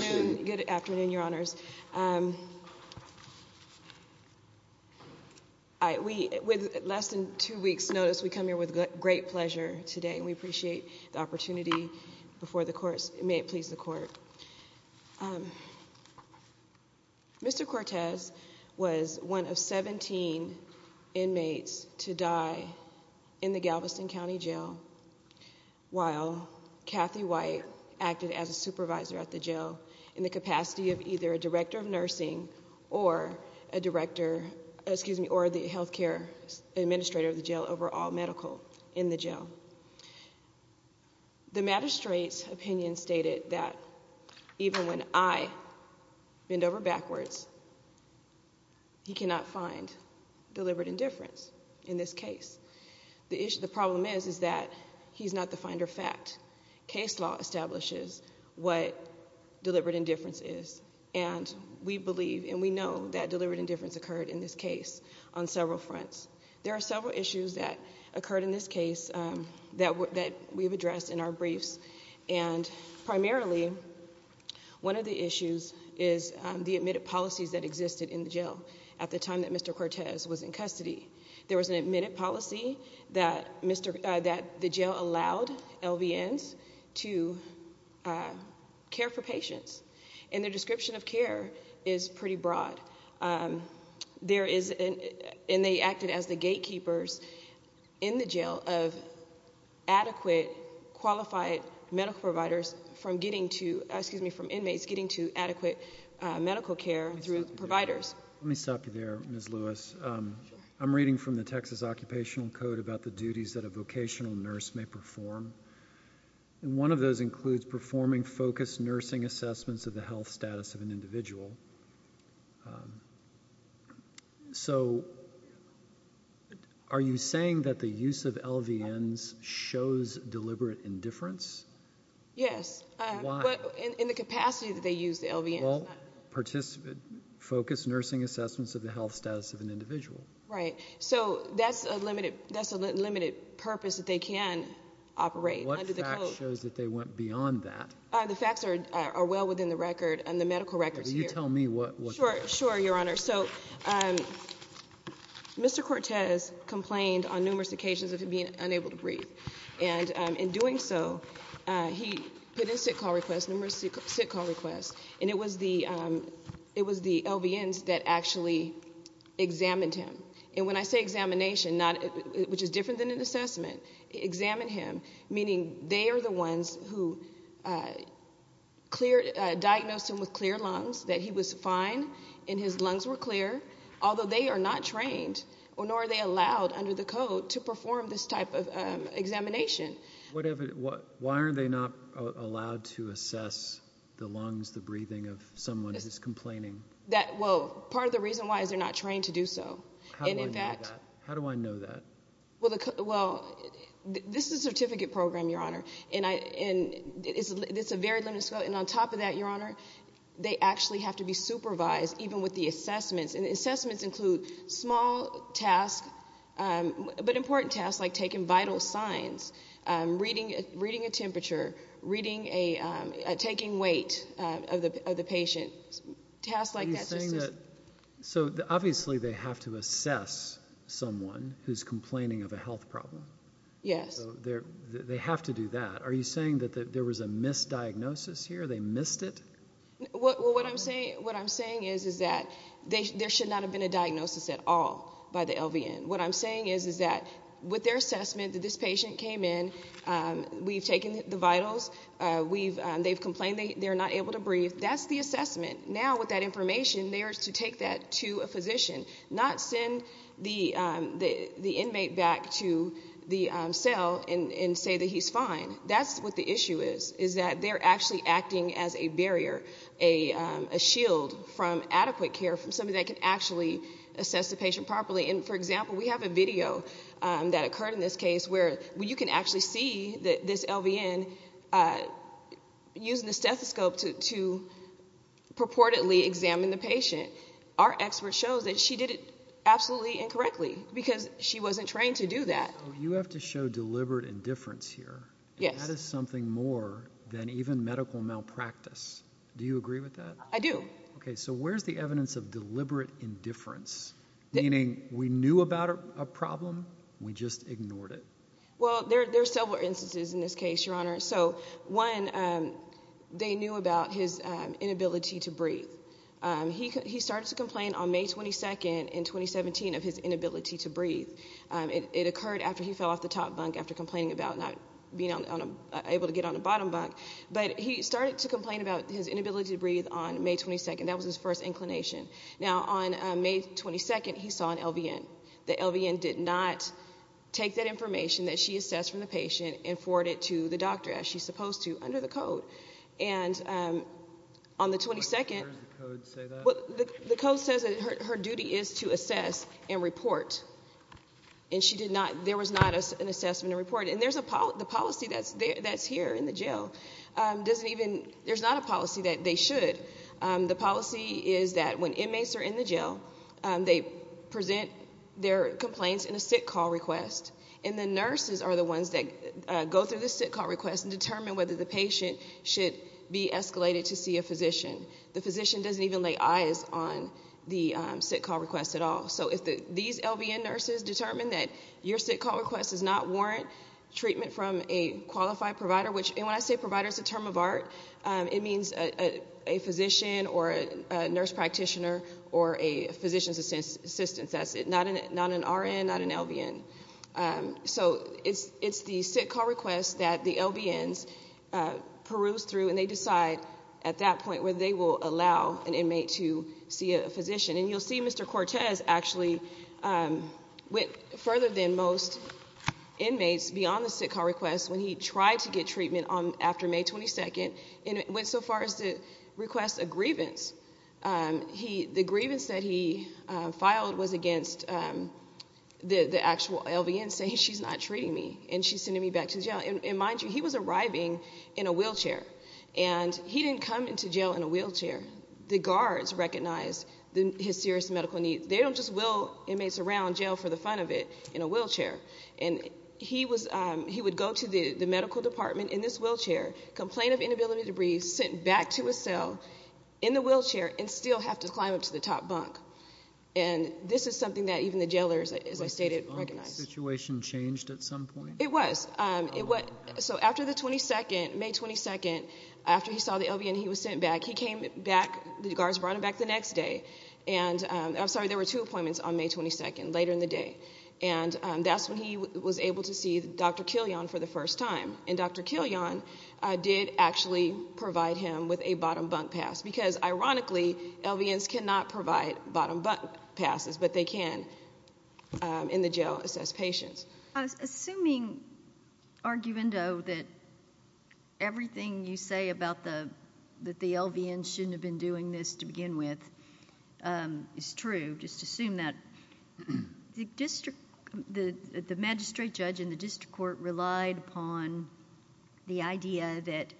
Good afternoon, your honors. With less than two weeks' notice, we come here with great pleasure today, and we appreciate the opportunity before the courts. May it please the court. Mr. Cortez was one of 17 inmates to die in the Galveston County Jail while Kathy White acted as a supervisor at the jail in the capacity of either a director of nursing or a director or the health care administrator of the jail over all medical in the jail. The magistrate's opinion stated that even when I bend over backwards, he cannot find deliberate indifference in this case. The problem is that he's not the finder of fact. Case law establishes what deliberate indifference is, and we believe and we know that deliberate indifference occurred in this case on several fronts. There are several issues that occurred in this case that we've addressed in our briefs, and primarily, one of the issues is the admitted policies that existed in the jail at the time that Mr. Cortez was in custody. There was an admitted policy that the jail allowed LVNs to care for patients, and their description of care is pretty broad. They acted as the gatekeepers in the jail of adequate, qualified medical providers from getting to, excuse me, from inmates getting to adequate medical care through providers. Let me stop you there, Ms. Lewis. I'm reading from the Texas Occupational Code about the duties that a vocational nurse may perform, and one of those includes performing focused nursing assessments of the health status of an individual. So, are you saying that the Yes. Why? In the capacity that they use the LVNs. Well, focused nursing assessments of the health status of an individual. Right. So, that's a limited purpose that they can operate under the code. What fact shows that they went beyond that? The facts are well within the record and the medical records here. Will you tell me what the facts are? Sure, Your Honor. So, Mr. Cortez complained on numerous occasions of him being unable to breathe, and in doing so, he put in sick call requests, numerous sick call requests, and it was the LVNs that actually examined him. And when I say examination, which is different than an assessment, examine him, meaning they are the ones who diagnosed him with clear lungs, that he was fine and his lungs were clear, although they are not trained or nor are they allowed under the code to perform this type of examination. Why aren't they not allowed to assess the lungs, the breathing of someone who's complaining? That well, part of the reason why is they're not trained to do so. How do I know that? Well, this is a certificate program, Your Honor, and it's a very limited scope. And on top of that, Your Honor, they actually have to be supervised even with the assessments. And assessments include small tasks, but important tasks like taking vital signs, reading a temperature, reading a, taking weight of the patient, tasks like that. So obviously they have to assess someone who's complaining of a health problem. Yes. So they have to do that. Are you saying that there was a misdiagnosis here, they missed it? Well, what I'm saying is that there should not have been a diagnosis at all by the LVN. What I'm saying is that with their assessment that this patient came in, we've taken the vitals, they've complained they're not able to breathe, that's the assessment. Now with that information, they are to take that to a physician, not send the inmate back to the cell and say that he's fine. That's what the issue is, is that they're actually acting as a barrier, a shield from adequate care from somebody that can actually assess the patient properly. And for example, we have a video that occurred in this case where you can actually see this LVN using the stethoscope to purportedly examine the patient. Our expert shows that she did it absolutely incorrectly because she wasn't trained to do that. You have to show deliberate indifference here. Yes. That is something more than even medical malpractice. Do you agree with that? I do. Okay, so where's the evidence of deliberate indifference? Meaning we knew about a problem, we just ignored it. Well, there's several instances in this case, Your Honor. So one, they knew about his inability to breathe. He started to complain on May 22nd in 2017 of his inability to breathe. It occurred after he fell off the top bunk after complaining about not being able to get on the bottom bunk. But he started to complain about his inability to breathe on May 22nd. That was his first inclination. Now, on May 22nd, he saw an LVN. The LVN did not take that information that she assessed from the patient and forward it to the doctor as she's supposed to under the code. And on the 22nd the code says that her duty is to assess and report. And she did not, there was not an assessment and report. And there's a policy, the policy that's here in the jail doesn't even, there's not a policy that they should. The policy is that when inmates are in the jail, they present their complaints in a sick call request. And the nurses are the ones that go through the sick call request and determine whether the patient should be escalated to see a physician. The physician doesn't even lay eyes on the patient. These LVN nurses determine that your sick call request does not warrant treatment from a qualified provider, which, and when I say provider, it's a term of art. It means a physician or a nurse practitioner or a physician's assistant. That's it. Not an RN, not an LVN. So it's the sick call request that the LVNs peruse through and they decide at that point whether they will allow an inmate to see a physician. And you'll see Mr. Cortez actually went further than most inmates beyond the sick call request when he tried to get treatment on, after May 22nd and went so far as to request a grievance. He, the grievance that he filed was against the actual LVN saying she's not treating me and she's sending me back to jail. And mind you, he was arriving in a wheelchair and he didn't come into jail in a wheelchair. The guards recognized his serious medical needs. They don't just wheel inmates around jail for the fun of it in a wheelchair. And he was, he would go to the medical department in this wheelchair, complain of inability to breathe, sit back to a cell in the wheelchair and still have to climb up to the top bunk. And this is something that even the jailers, as I stated, recognized. Had the situation changed at some point? It was. It was, so after the 22nd, May 22nd, after he saw the LVN he was sent back. He came back, the guards brought him back the next day. And, I'm sorry, there were two appointments on May 22nd, later in the day. And that's when he was able to see Dr. Killian for the first time. And Dr. Killian did actually provide him with a bottom bunk pass. Because, ironically, LVNs cannot provide bottom bunk passes, but they can, in the jail, assess patients. I was assuming, arguendo, that everything you say about the LVNs shouldn't have been doing this to begin with is true. Just assume that the district, the magistrate judge in the district court relied upon the idea that,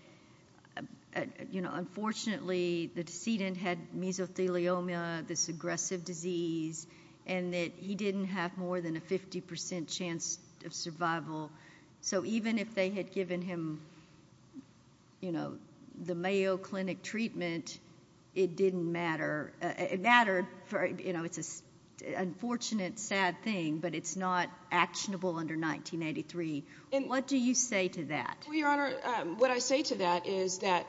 you know, unfortunately the decedent had to have had mesothelioma, this aggressive disease, and that he didn't have more than a 50% chance of survival. So even if they had given him, you know, the Mayo Clinic treatment, it didn't matter. It mattered for, you know, it's an unfortunate, sad thing, but it's not actionable under 1983. What do you say to that? Well, Your Honor, what I say to that is that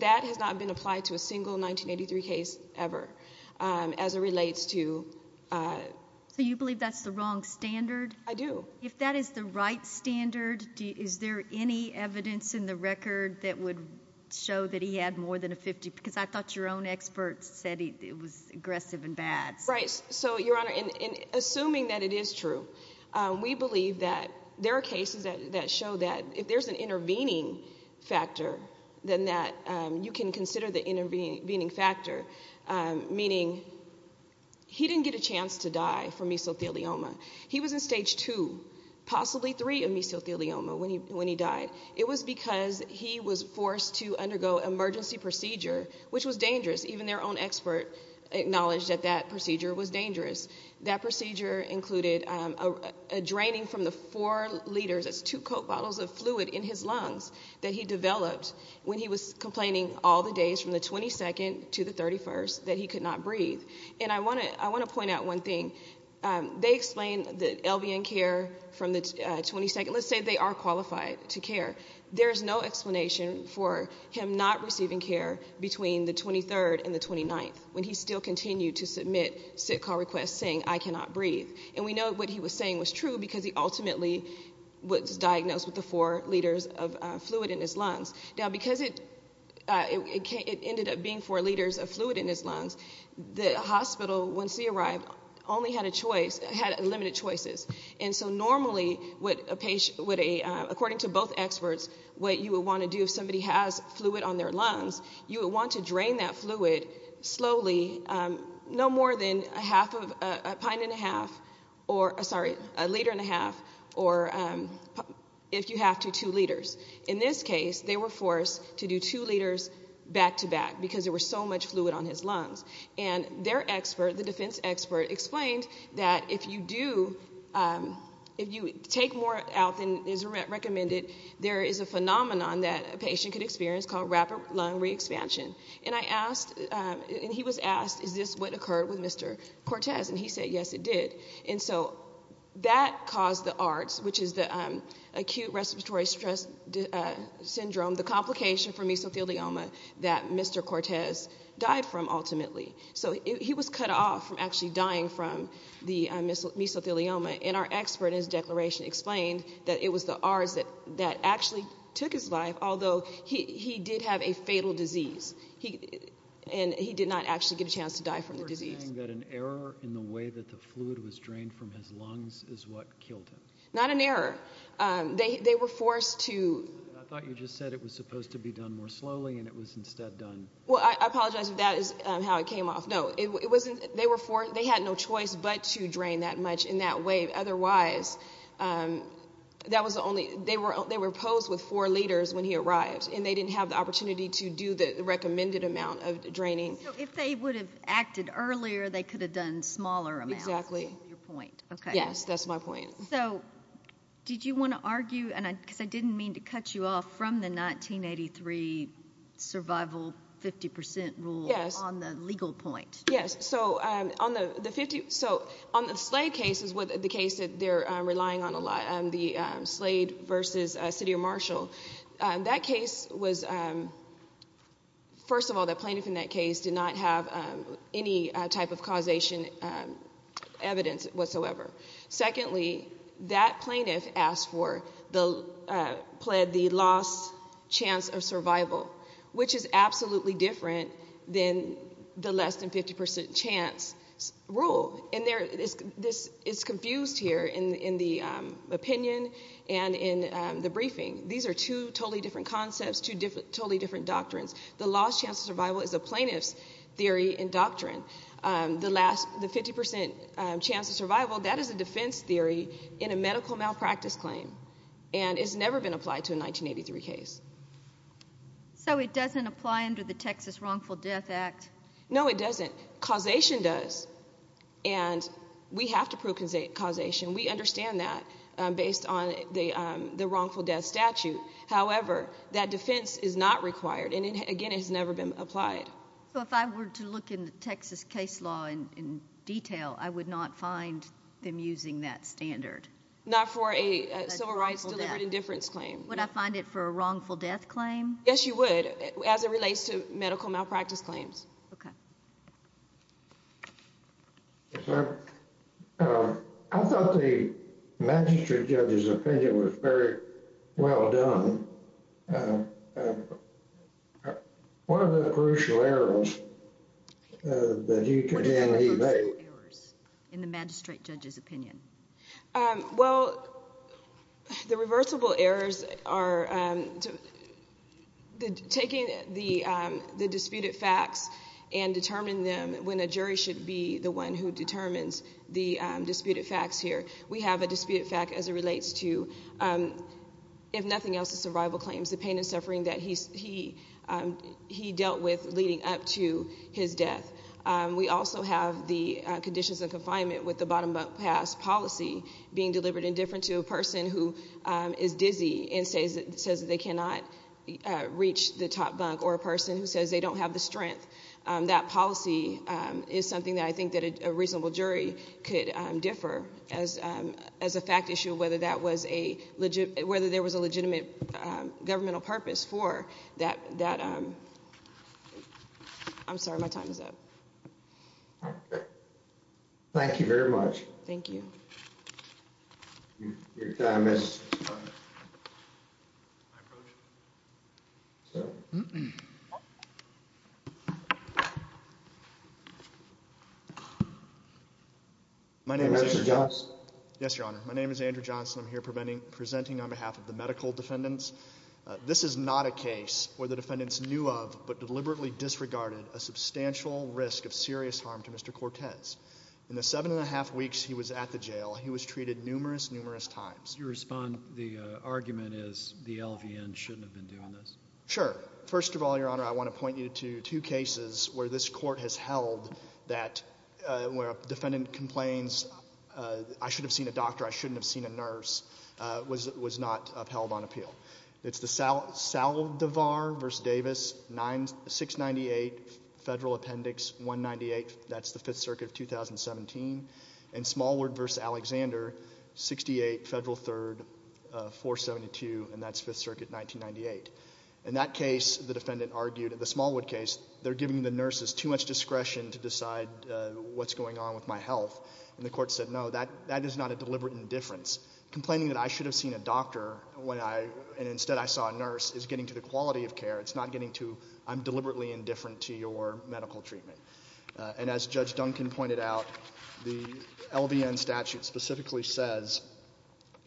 that has not been applied to a single 1983 case ever, as it relates to... So you believe that's the wrong standard? I do. If that is the right standard, is there any evidence in the record that would show that he had more than a 50? Because I thought your own expert said it was aggressive and bad. Right. So, Your Honor, in assuming that it is true, we believe that there are cases that show that if there's an intervening factor, then that you can consider the intervening factor, meaning he didn't get a chance to die from mesothelioma. He was in stage two, possibly three, of mesothelioma when he died. It was because he was forced to undergo emergency procedure, which was dangerous. Even their own expert acknowledged that that procedure was dangerous. That procedure included a draining from the four liters, that's two Coke bottles of fluid, in his lungs that he developed when he was complaining all the days from the 22nd to the 31st that he could not breathe. And I want to point out one thing. They explain that LVN care from the 22nd, let's say they are qualified to care. There's no explanation for him not receiving care between the 23rd and the 29th when he still continued to submit sick call requests saying, I cannot breathe. And we know what he was saying was true because he ultimately was diagnosed with the four liters of fluid in his lungs. Now, because it ended up being four liters of fluid in his lungs, the hospital, once he arrived, only had a choice, had limited choices. And so normally, according to both experts, what you would want to do if somebody has fluid on their lungs, you would want to drain that fluid slowly, no more than a half of a pint and a half or a, sorry, a liter and a half or if you have to, two liters. In this case, they were forced to do two liters back to back because there was so much fluid on his lungs. And their expert, the defense expert, explained that if you do, if you take more blood out than is recommended, there is a phenomenon that a patient could experience called rapid lung re-expansion. And I asked, and he was asked, is this what occurred with Mr. Cortez? And he said, yes, it did. And so that caused the ARDS, which is the acute respiratory stress syndrome, the complication for mesothelioma that Mr. Cortez died from ultimately. So he was cut off from actually dying from the mesothelioma. And our expert in his declaration explained that it was the ARDS that actually took his life, although he did have a fatal disease. And he did not actually get a chance to die from the disease. You're saying that an error in the way that the fluid was drained from his lungs is what killed him. Not an error. They were forced to I thought you just said it was supposed to be done more slowly and it was instead done Well, I apologize if that is how it came off. No, it wasn't, they were forced, they had no choice but to drain that much in that way. Otherwise, that was the only, they were posed with four liters when he arrived. And they didn't have the opportunity to do the recommended amount of draining. So if they would have acted earlier, they could have done smaller amounts. Exactly. Your point. Yes, that's my point. So did you want to argue, and I didn't mean to cut you off from the 1983 survival 50% rule on the legal point. Yes, so on the 50, so on the Slade case is what the case that they're relying on a lot on the Slade versus City of Marshall. That case was, first of all, the plaintiff in that case did not have any type of causation evidence whatsoever. Secondly, that plaintiff asked for the, pled the last chance of survival, which is absolutely different than the less than 50% chance rule. And there, this is confused here in the opinion and in the briefing. These are two totally different concepts, two totally different doctrines. The last chance of survival is a plaintiff's theory and doctrine. The last, the 50% chance of survival, that is a defense theory in a medical malpractice claim. And it's never been applied to a 1983 case. So it doesn't apply under the Texas Wrongful Death Act? No, it doesn't. Causation does. And we have to prove causation. We understand that based on the wrongful death statute. However, that defense is not required. And again, it's never been applied. So if I were to look in the Texas case law in detail, I would not find them using that standard? Not for a civil rights deliberate indifference claim. Would I find it for a wrongful death claim? Yes, you would, as it relates to medical malpractice claims. Okay. Yes, ma'am. I thought the magistrate judge's opinion was very well done. What are the crucial errors that you can then evade? What are the crucial errors in the magistrate judge's opinion? Well, the reversible errors are taking the disputed facts and determining them when a jury should be the one who determines the disputed facts here. We have a disputed fact, as it relates to, if nothing else, the survival claims, the pain and suffering that he dealt with leading up to his death. We also have the conditions of confinement with the bottom up pass policy being deliberate indifference to a person who is dizzy and says that they cannot reach the top bunk, or a person who says they don't have the strength. That policy is something that I think that a reasonable jury could differ as a fact issue, whether that was a legit, whether there was a legitimate governmental purpose for that. I'm sorry, my time is up. Thank you very much. Thank you. Your time is up. My name is Andrew Johnson. I'm here presenting on behalf of the medical defendants. This is not a case where the defendants knew of, but deliberately disregarded a substantial risk of serious harm to Mr. Cortez. In the seven and a half weeks he was at the jail, he was treated numerous, numerous times. The argument is the LVN shouldn't have been doing this. Sure. First of all, Your Honor, I want to point you to two cases where this court has held that, where a defendant complains, I should have seen a doctor, I shouldn't have seen a nurse, was not upheld on appeal. It's the Saldivar v. Davis, 698 Federal Appendix 198, that's the Fifth Circuit of 2017. And Smallwood v. Alexander, 68 Federal Third, 472, and that's Fifth Circuit 1998. In that case, the defendant argued, in the Smallwood case, they're giving the nurses too much discretion to decide what's going on with my health. And the court said, no, that is not a deliberate indifference. Complaining that I should have seen a doctor when I, and instead I saw a nurse, is getting to the quality of care. It's not getting to, I'm deliberately indifferent to your medical treatment. And as Judge Duncan pointed out, the LVN statute specifically says,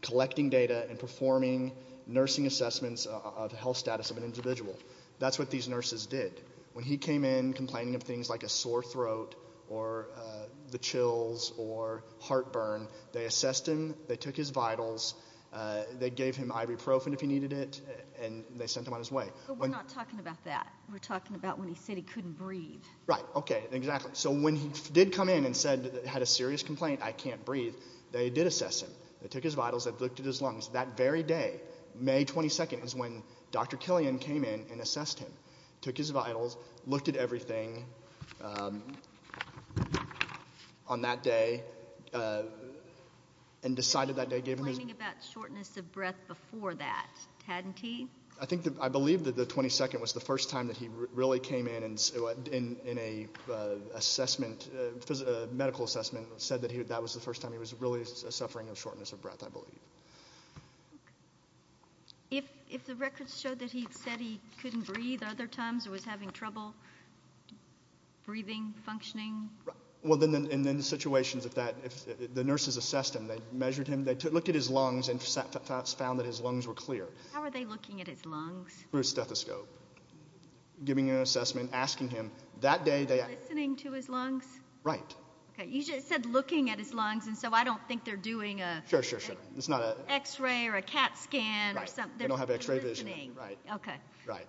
collecting data and performing nursing assessments of health status of an individual. That's what these nurses did. When he came in complaining of things like a sore throat, or the chills, or heartburn, they assessed him, they took his vitals, they gave him ibuprofen if he needed it, and they sent him on his way. We're not talking about that. We're talking about when he said he couldn't breathe. Right, okay, exactly. So when he did come in and said, had a serious complaint, I can't breathe, they did assess him. They took his vitals, they looked at his lungs. That very day, May 22nd, is when Dr. Killian came in and assessed him. Took his vitals, looked at everything on that day, and decided that day gave him his... He was complaining about shortness of breath before that, hadn't he? I believe that the 22nd was the first time that he really came in and, in a medical assessment, said that that was the first time he was really suffering from shortness of breath, I believe. If the records showed that he said he couldn't breathe, other times he was having trouble breathing, functioning? Well, in those situations, the nurses assessed him, they measured him, they looked at his lungs and found that his lungs were clear. How were they looking at his lungs? Through a stethoscope. Giving an assessment, asking him. Were they listening to his lungs? Right. Okay, you just said looking at his lungs, and so I don't think they're doing an X-ray or a CAT scan or something. Right, they don't have X-ray vision. They're listening. Right, right.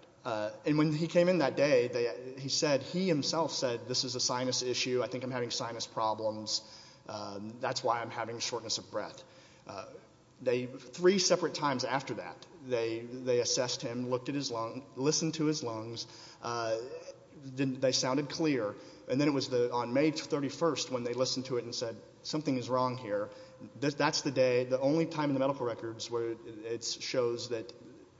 And when he came in that day, he himself said, this is a sinus issue, I think I'm having sinus problems, that's why I'm having shortness of breath. Three separate times after that, they assessed him, looked at his lungs, listened to his lungs, they sounded clear. And then it was on May 31st when they listened to it and said, something is wrong here. That's the day, the only time in the medical records where it shows that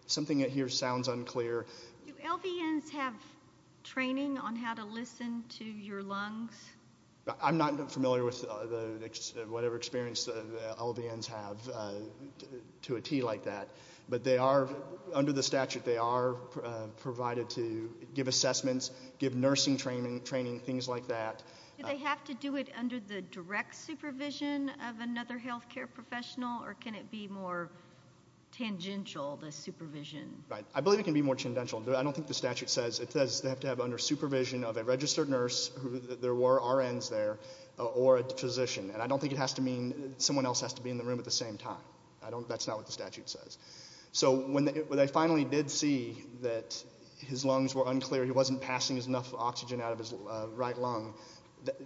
something here sounds unclear. Do LVNs have training on how to listen to your lungs? I'm not familiar with whatever experience LVNs have to a T like that. But they are, under the statute, they are provided to give assessments, give nursing training, things like that. Do they have to do it under the direct supervision of another healthcare professional, or can it be more tangential, the supervision? Right, I believe it can be more tangential. I don't think the statute says. It says they have to have under supervision of a registered nurse, there were RNs there, or a physician. And I don't think it has to mean someone else has to be in the room at the same time. That's not what the statute says. So when they finally did see that his lungs were unclear, he wasn't passing enough oxygen out of his right lung,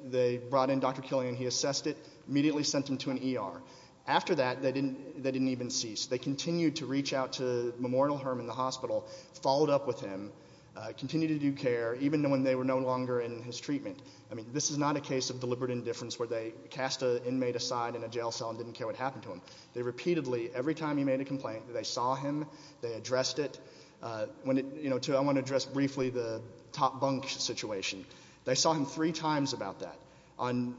they brought in Dr. Killian, he assessed it, immediately sent him to an ER. After that, they didn't even cease. They continued to reach out to Memorial Hermann, the hospital, followed up with him, continued to do care, even when they were no longer in his treatment. I mean, this is not a case of deliberate indifference where they cast an inmate aside in a jail cell and didn't care what happened to him. They repeatedly, every time he made a complaint, they saw him, they addressed it. I want to address briefly the top bunk situation. They saw him three times about that. On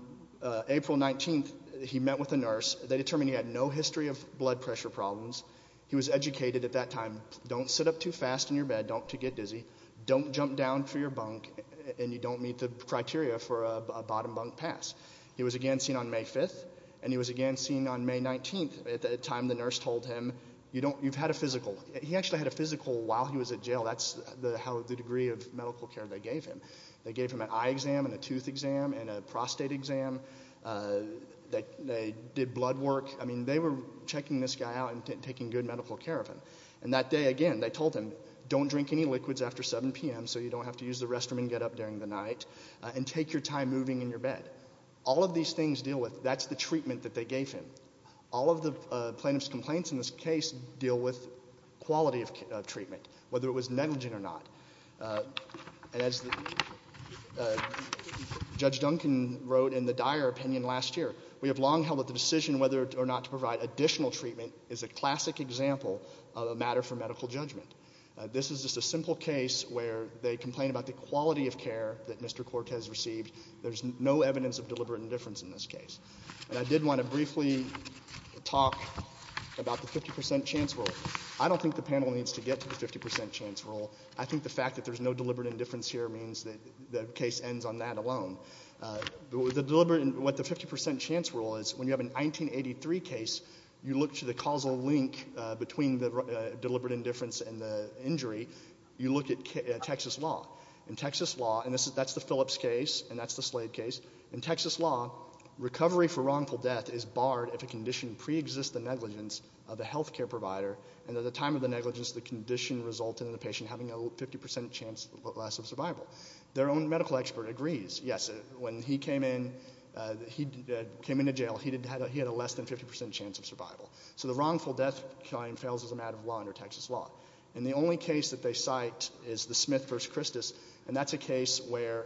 April 19th, he met with a nurse. They determined he had no history of blood pressure problems. He was educated at that time, don't sit up too fast in your bed, don't get dizzy, don't jump down for your bunk, and you don't meet the criteria for a bottom bunk pass. He was again seen on May 5th, and he was again seen on May 19th at the time the nurse told him, you've had a physical. He actually had a physical while he was in jail. That's the degree of medical care they gave him. They gave him an eye exam and a tooth exam and a prostate exam. They did blood work. I mean, they were checking this guy out and taking good medical care of him. And that day again, they told him, don't drink any liquids after 7 p.m. so you don't have to use the restroom and get up during the night, and take your time moving in your bed. All of these things deal with, that's the treatment that they gave him. All of the plaintiff's complaints in this case deal with quality of treatment, whether it was negligent or not. As Judge Duncan wrote in the dire opinion last year, we have long held that the decision whether or not to provide additional treatment is a classic example of a matter for medical judgment. This is just a simple case where they complain about the quality of care that Mr. Cortez received. There's no evidence of deliberate indifference in this case. And I did want to briefly talk about the 50% chance rule. I don't think the panel needs to get to the 50% chance rule. I think the fact that there's no deliberate indifference here means that the case ends on that alone. What the 50% chance rule is, when you have a 1983 case, you look to the causal link between the deliberate indifference and the injury. You look at Texas law. In Texas law, and that's the Phillips case, and that's the Slade case. In Texas law, recovery for wrongful death is barred if a condition pre-exists the negligence of the health care provider, and at the time of the negligence, the condition resulted in the patient having a 50% chance less of survival. Their own medical expert agrees. Yes, when he came into jail, he had a less than 50% chance of survival. So the wrongful death claim fails as a matter of law under Texas law. And the only case that they cite is the Smith v. Christus, and that's a case where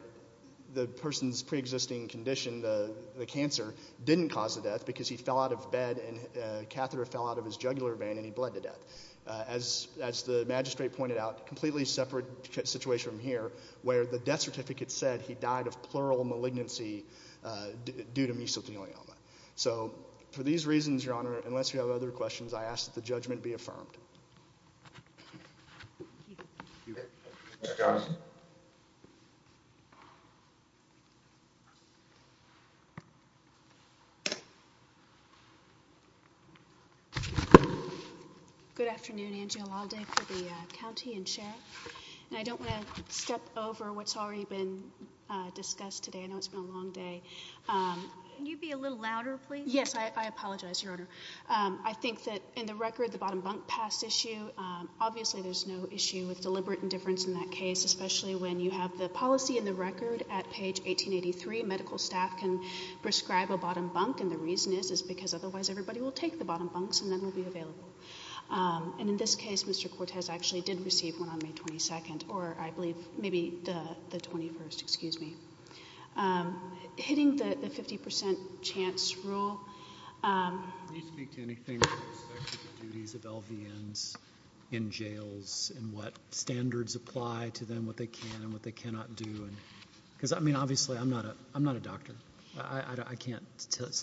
the person's pre-existing condition, the cancer, didn't cause the death because he fell out of bed and a catheter fell out of his jugular vein and he bled to death. As the magistrate pointed out, completely separate situation from here, where the death certificate said he died of plural malignancy due to mesothelioma. So for these reasons, Your Honor, unless you have other questions, I ask that the judgment be affirmed. Thank you. Ms. Johnson. Good afternoon, Angela Aldate for the county and sheriff. And I don't want to step over what's already been discussed today. I know it's been a long day. Can you be a little louder, please? Yes, I apologize, Your Honor. I think that in the record, the bottom bunk pass issue, obviously there's no issue with deliberate indifference in that case, especially when you have the policy in the record at page 1883. Medical staff can prescribe a bottom bunk, and the reason is because otherwise everybody will take the bottom bunks and none will be available. And in this case, Mr. Cortez actually did receive one on May 22nd, or I believe maybe the 21st. Excuse me. Hitting the 50% chance rule. Can you speak to anything with respect to the duties of LVNs in jails and what standards apply to them, what they can and what they cannot do? Because, I mean, obviously I'm not a doctor. I can't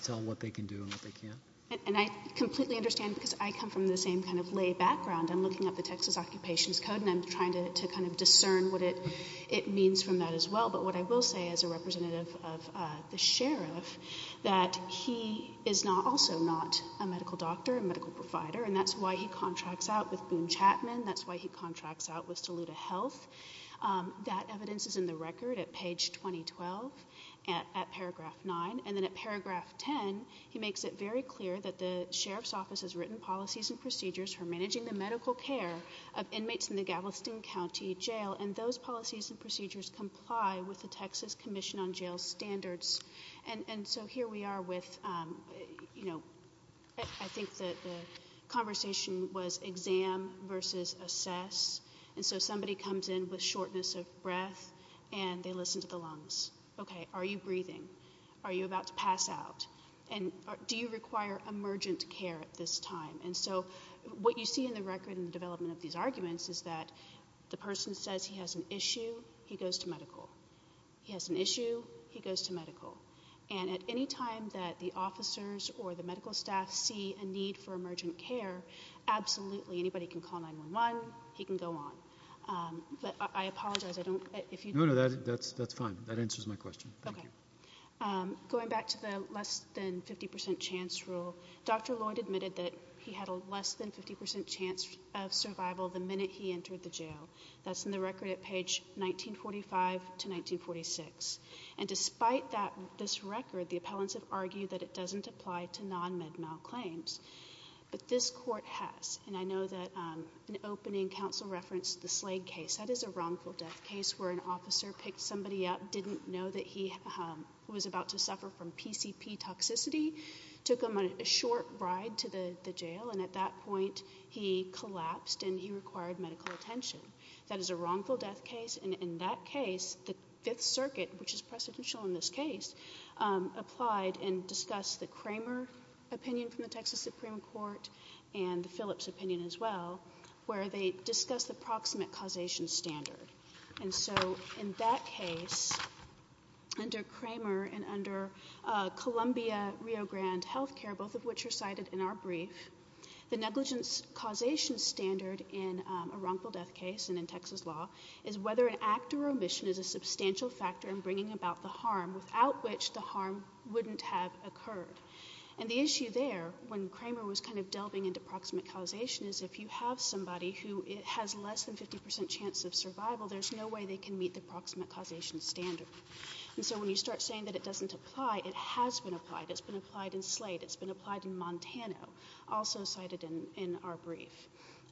tell what they can do and what they can't. And I completely understand because I come from the same kind of lay background. I'm looking up the Texas Occupations Code, and I'm trying to kind of discern what it means from that as well. But what I will say as a representative of the sheriff, that he is also not a medical doctor, a medical provider, and that's why he contracts out with Boone Chapman. That's why he contracts out with Saluda Health. That evidence is in the record at page 2012 at paragraph 9. And then at paragraph 10, he makes it very clear that the sheriff's office has written policies and procedures for managing the medical care of inmates in the Galveston County Jail, and those policies and procedures comply with the Texas Commission on Jail Standards. And so here we are with, you know, I think the conversation was exam versus assess. And so somebody comes in with shortness of breath, and they listen to the lungs. Okay, are you breathing? Are you about to pass out? And do you require emergent care at this time? And so what you see in the record in the development of these arguments is that the person says he has an issue, he goes to medical. He has an issue, he goes to medical. And at any time that the officers or the medical staff see a need for emergent care, absolutely anybody can call 911, he can go on. But I apologize. No, no, that's fine. That answers my question. Thank you. Going back to the less than 50% chance rule, Dr. Lloyd admitted that he had a less than 50% chance of survival the minute he entered the jail. That's in the record at page 1945 to 1946. And despite this record, the appellants have argued that it doesn't apply to non-med mal claims. But this court has. And I know that an opening counsel referenced the Slade case. That is a wrongful death case where an officer picked somebody up, didn't know that he was about to suffer from PCP toxicity, took him on a short ride to the jail, and at that point he collapsed and he required medical attention. That is a wrongful death case. And in that case, the Fifth Circuit, which is precedential in this case, applied and discussed the Kramer opinion from the Texas Supreme Court and the Phillips opinion as well, where they discussed the proximate causation standard. And so in that case, under Kramer and under Columbia Rio Grande Health Care, both of which are cited in our brief, the negligence causation standard in a wrongful death case and in Texas law is whether an act or omission is a substantial factor in bringing about the harm without which the harm wouldn't have occurred. And the issue there, when Kramer was kind of delving into proximate causation, is if you have somebody who has less than 50% chance of survival, there's no way they can meet the proximate causation standard. And so when you start saying that it doesn't apply, it has been applied. It's been applied in Slade. It's been applied in Montana, also cited in our brief.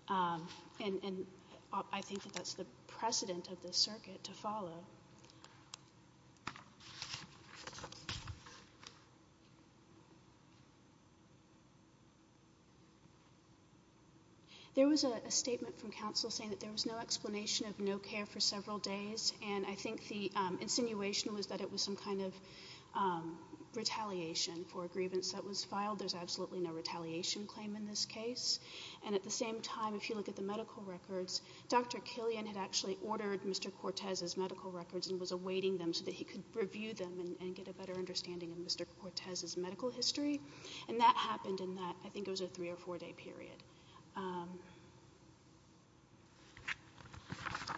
And I think that that's the precedent of this circuit to follow. There was a statement from counsel saying that there was no explanation of no care for several days, and I think the insinuation was that it was some kind of retaliation for a grievance that was filed. There's absolutely no retaliation claim in this case. And at the same time, if you look at the medical records, Dr. Killian had actually ordered Mr. Cortez's medical records and was awaiting them so that he could review them and get a better understanding of Mr. Cortez's medical history. And that happened in that, I think it was a three- or four-day period.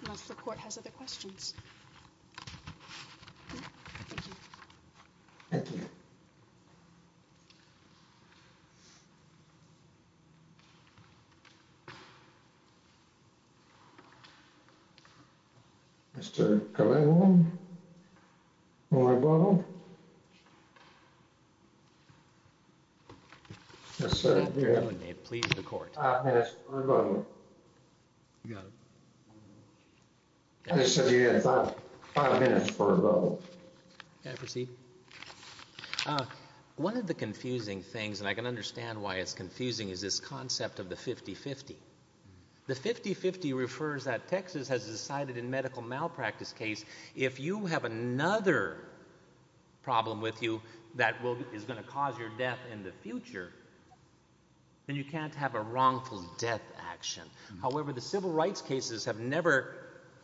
Unless the court has other questions. Thank you. Thank you. Mr. Calavo? Marabono? Yes, sir. Five minutes for a vote. I just said you had five minutes for a vote. May I proceed? One of the confusing things, and I can understand why it's confusing, is this concept of the 50-50. The 50-50 refers that Texas has decided in medical malpractice case, if you have another problem with you that is going to cause your death in the future, then you can't have a wrongful death action. However, the civil rights cases have never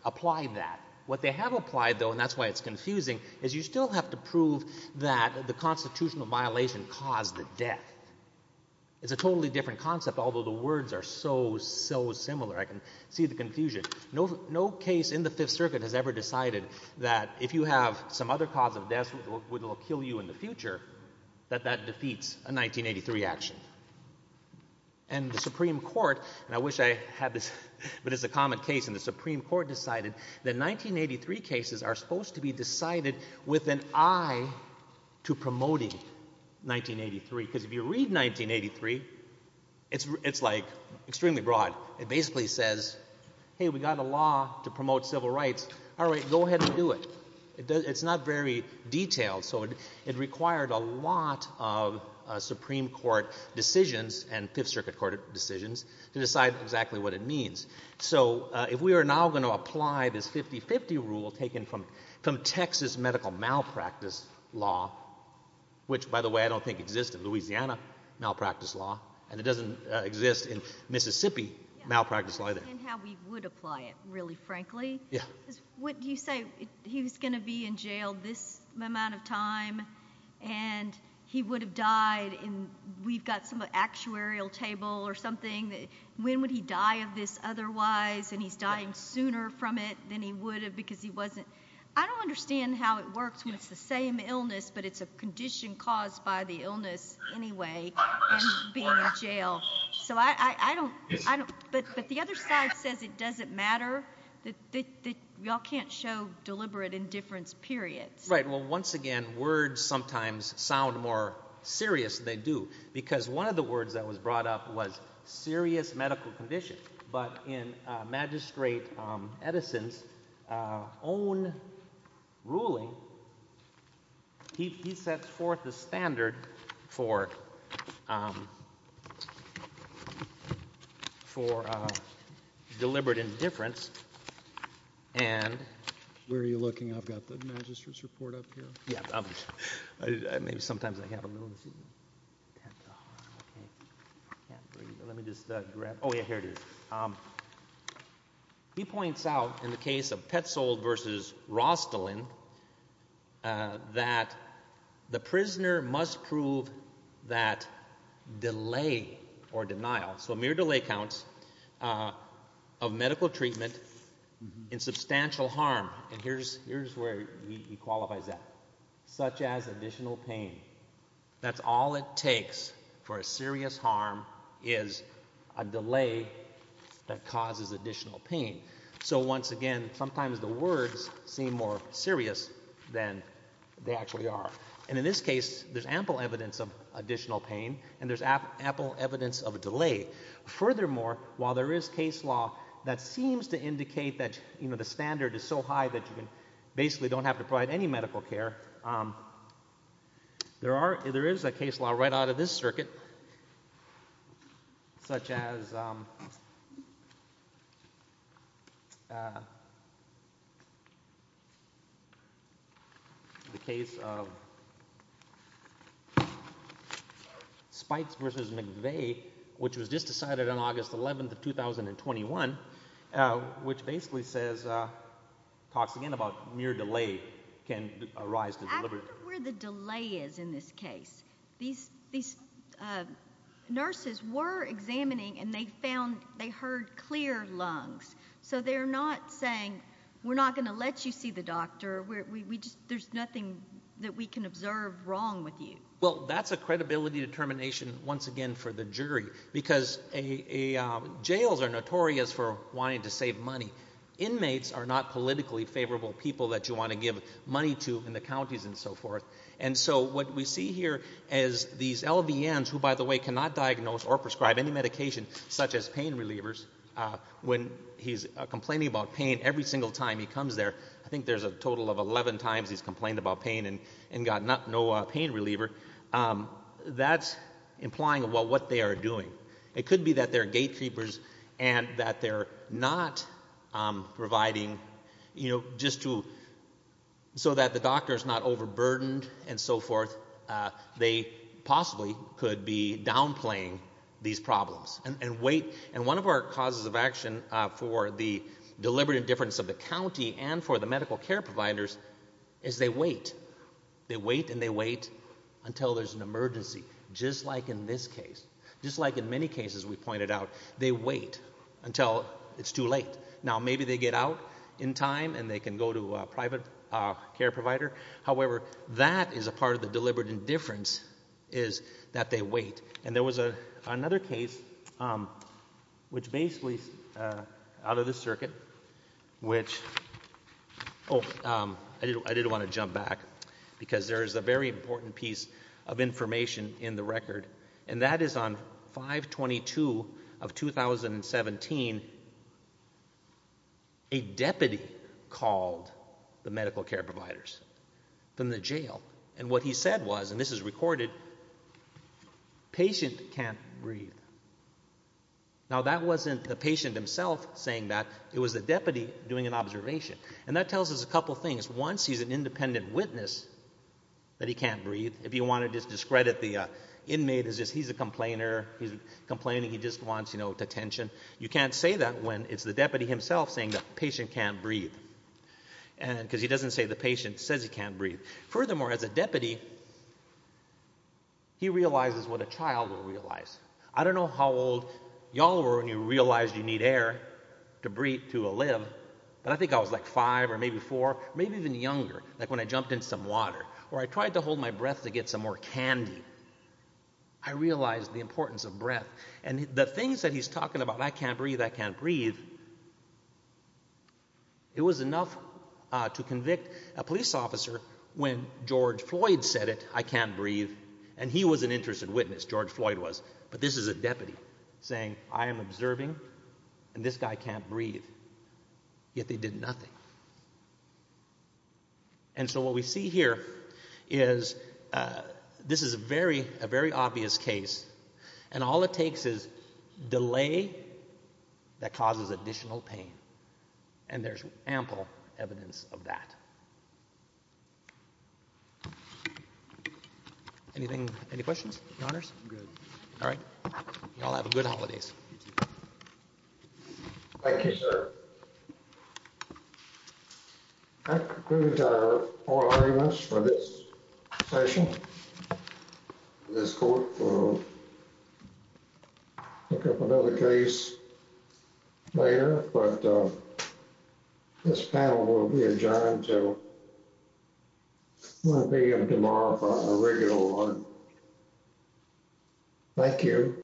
applied that. What they have applied, though, and that's why it's confusing, is you still have to prove that the constitutional violation caused the death. It's a totally different concept, although the words are so, so similar. I can see the confusion. No case in the Fifth Circuit has ever decided that if you have some other cause of death that will kill you in the future, that that defeats a 1983 action. And the Supreme Court, and I wish I had this, but it's a common case, and the Supreme Court decided that 1983 cases are supposed to be decided with an eye to promoting 1983. Because if you read 1983, it's, like, extremely broad. It basically says, hey, we've got a law to promote civil rights. All right, go ahead and do it. It's not very detailed, so it required a lot of Supreme Court decisions and Fifth Circuit Court decisions to decide exactly what it means. So if we are now going to apply this 50-50 rule taken from Texas medical malpractice law, which, by the way, I don't think exists in Louisiana malpractice law, and it doesn't exist in Mississippi malpractice law either. And how we would apply it, really, frankly. What you say, he was going to be in jail this amount of time, and he would have died, and we've got some actuarial table or something. When would he die of this otherwise, and he's dying sooner from it than he would have because he wasn't. I don't understand how it works when it's the same illness, but it's a condition caused by the illness anyway, and being in jail. But the other side says it doesn't matter. Y'all can't show deliberate indifference, period. Right, well, once again, words sometimes sound more serious than they do because one of the words that was brought up was serious medical condition. But in Magistrate Edison's own ruling, he sets forth the standard for deliberate indifference. Where are you looking? I've got the magistrate's report up here. Yeah, maybe sometimes I have a little. Let me just grab it. Oh, yeah, here it is. He points out in the case of Petzold versus Rostelin that the prisoner must prove that delay or denial, so mere delay counts, of medical treatment in substantial harm. And here's where he qualifies that, such as additional pain. That's all it takes for a serious harm is a delay that causes additional pain. So once again, sometimes the words seem more serious than they actually are. And in this case, there's ample evidence of additional pain, and there's ample evidence of a delay. Furthermore, while there is case law that seems to indicate that the standard is so high that you basically don't have to provide any medical care, there is a case law right out of this circuit, such as the case of Spikes versus McVeigh, which was just decided on August 11th of 2021, which basically talks again about mere delay can arise. I wonder where the delay is in this case. These nurses were examining, and they found they heard clear lungs. So they're not saying we're not going to let you see the doctor. There's nothing that we can observe wrong with you. Well, that's a credibility determination once again for the jury, because jails are notorious for wanting to save money. Inmates are not politically favorable people that you want to give money to in the counties and so forth. And so what we see here is these LVNs, who, by the way, cannot diagnose or prescribe any medication, such as pain relievers, when he's complaining about pain every single time he comes there. I think there's a total of 11 times he's complained about pain and got no pain reliever. That's implying what they are doing. It could be that they're gatekeepers and that they're not providing just so that the doctor is not overburdened and so forth. They possibly could be downplaying these problems and wait. And one of our causes of action for the deliberate indifference of the county and for the medical care providers is they wait. They wait, and they wait until there's an emergency, just like in this case, just like in many cases we pointed out. They wait until it's too late. Now, maybe they get out in time, and they can go to a private care provider. However, that is a part of the deliberate indifference is that they wait. And there was another case, which basically is out of the circuit, which, oh, I did want to jump back because there is a very important piece of information in the record, and that is on 5-22 of 2017, a deputy called the medical care providers from the jail. And what he said was, and this is recorded, patient can't breathe. Now, that wasn't the patient himself saying that. It was the deputy doing an observation. And that tells us a couple things. Once he's an independent witness that he can't breathe, if you want to discredit the inmate as just he's a complainer, he's complaining he just wants attention, you can't say that when it's the deputy himself saying the patient can't breathe because he doesn't say the patient says he can't breathe. Furthermore, as a deputy, he realizes what a child will realize. I don't know how old y'all were when you realized you need air to breathe, to live, but I think I was like five or maybe four, maybe even younger, like when I jumped in some water or I tried to hold my breath to get some more candy, I realized the importance of breath. And the things that he's talking about, I can't breathe, I can't breathe, it was enough to convict a police officer when George Floyd said it, I can't breathe, and he was an interested witness, George Floyd was, but this is a deputy saying, I am observing and this guy can't breathe, yet they did nothing. And so what we see here is this is a very obvious case, and all it takes is delay that causes additional pain, and there's ample evidence of that. Anything, any questions, your honors? I'm good. All right, y'all have a good holidays. Thank you, sir. That concludes our oral arguments for this session. This court will pick up another case later, but this panel will be adjourned until 1 p.m. tomorrow for a regular one. Thank you.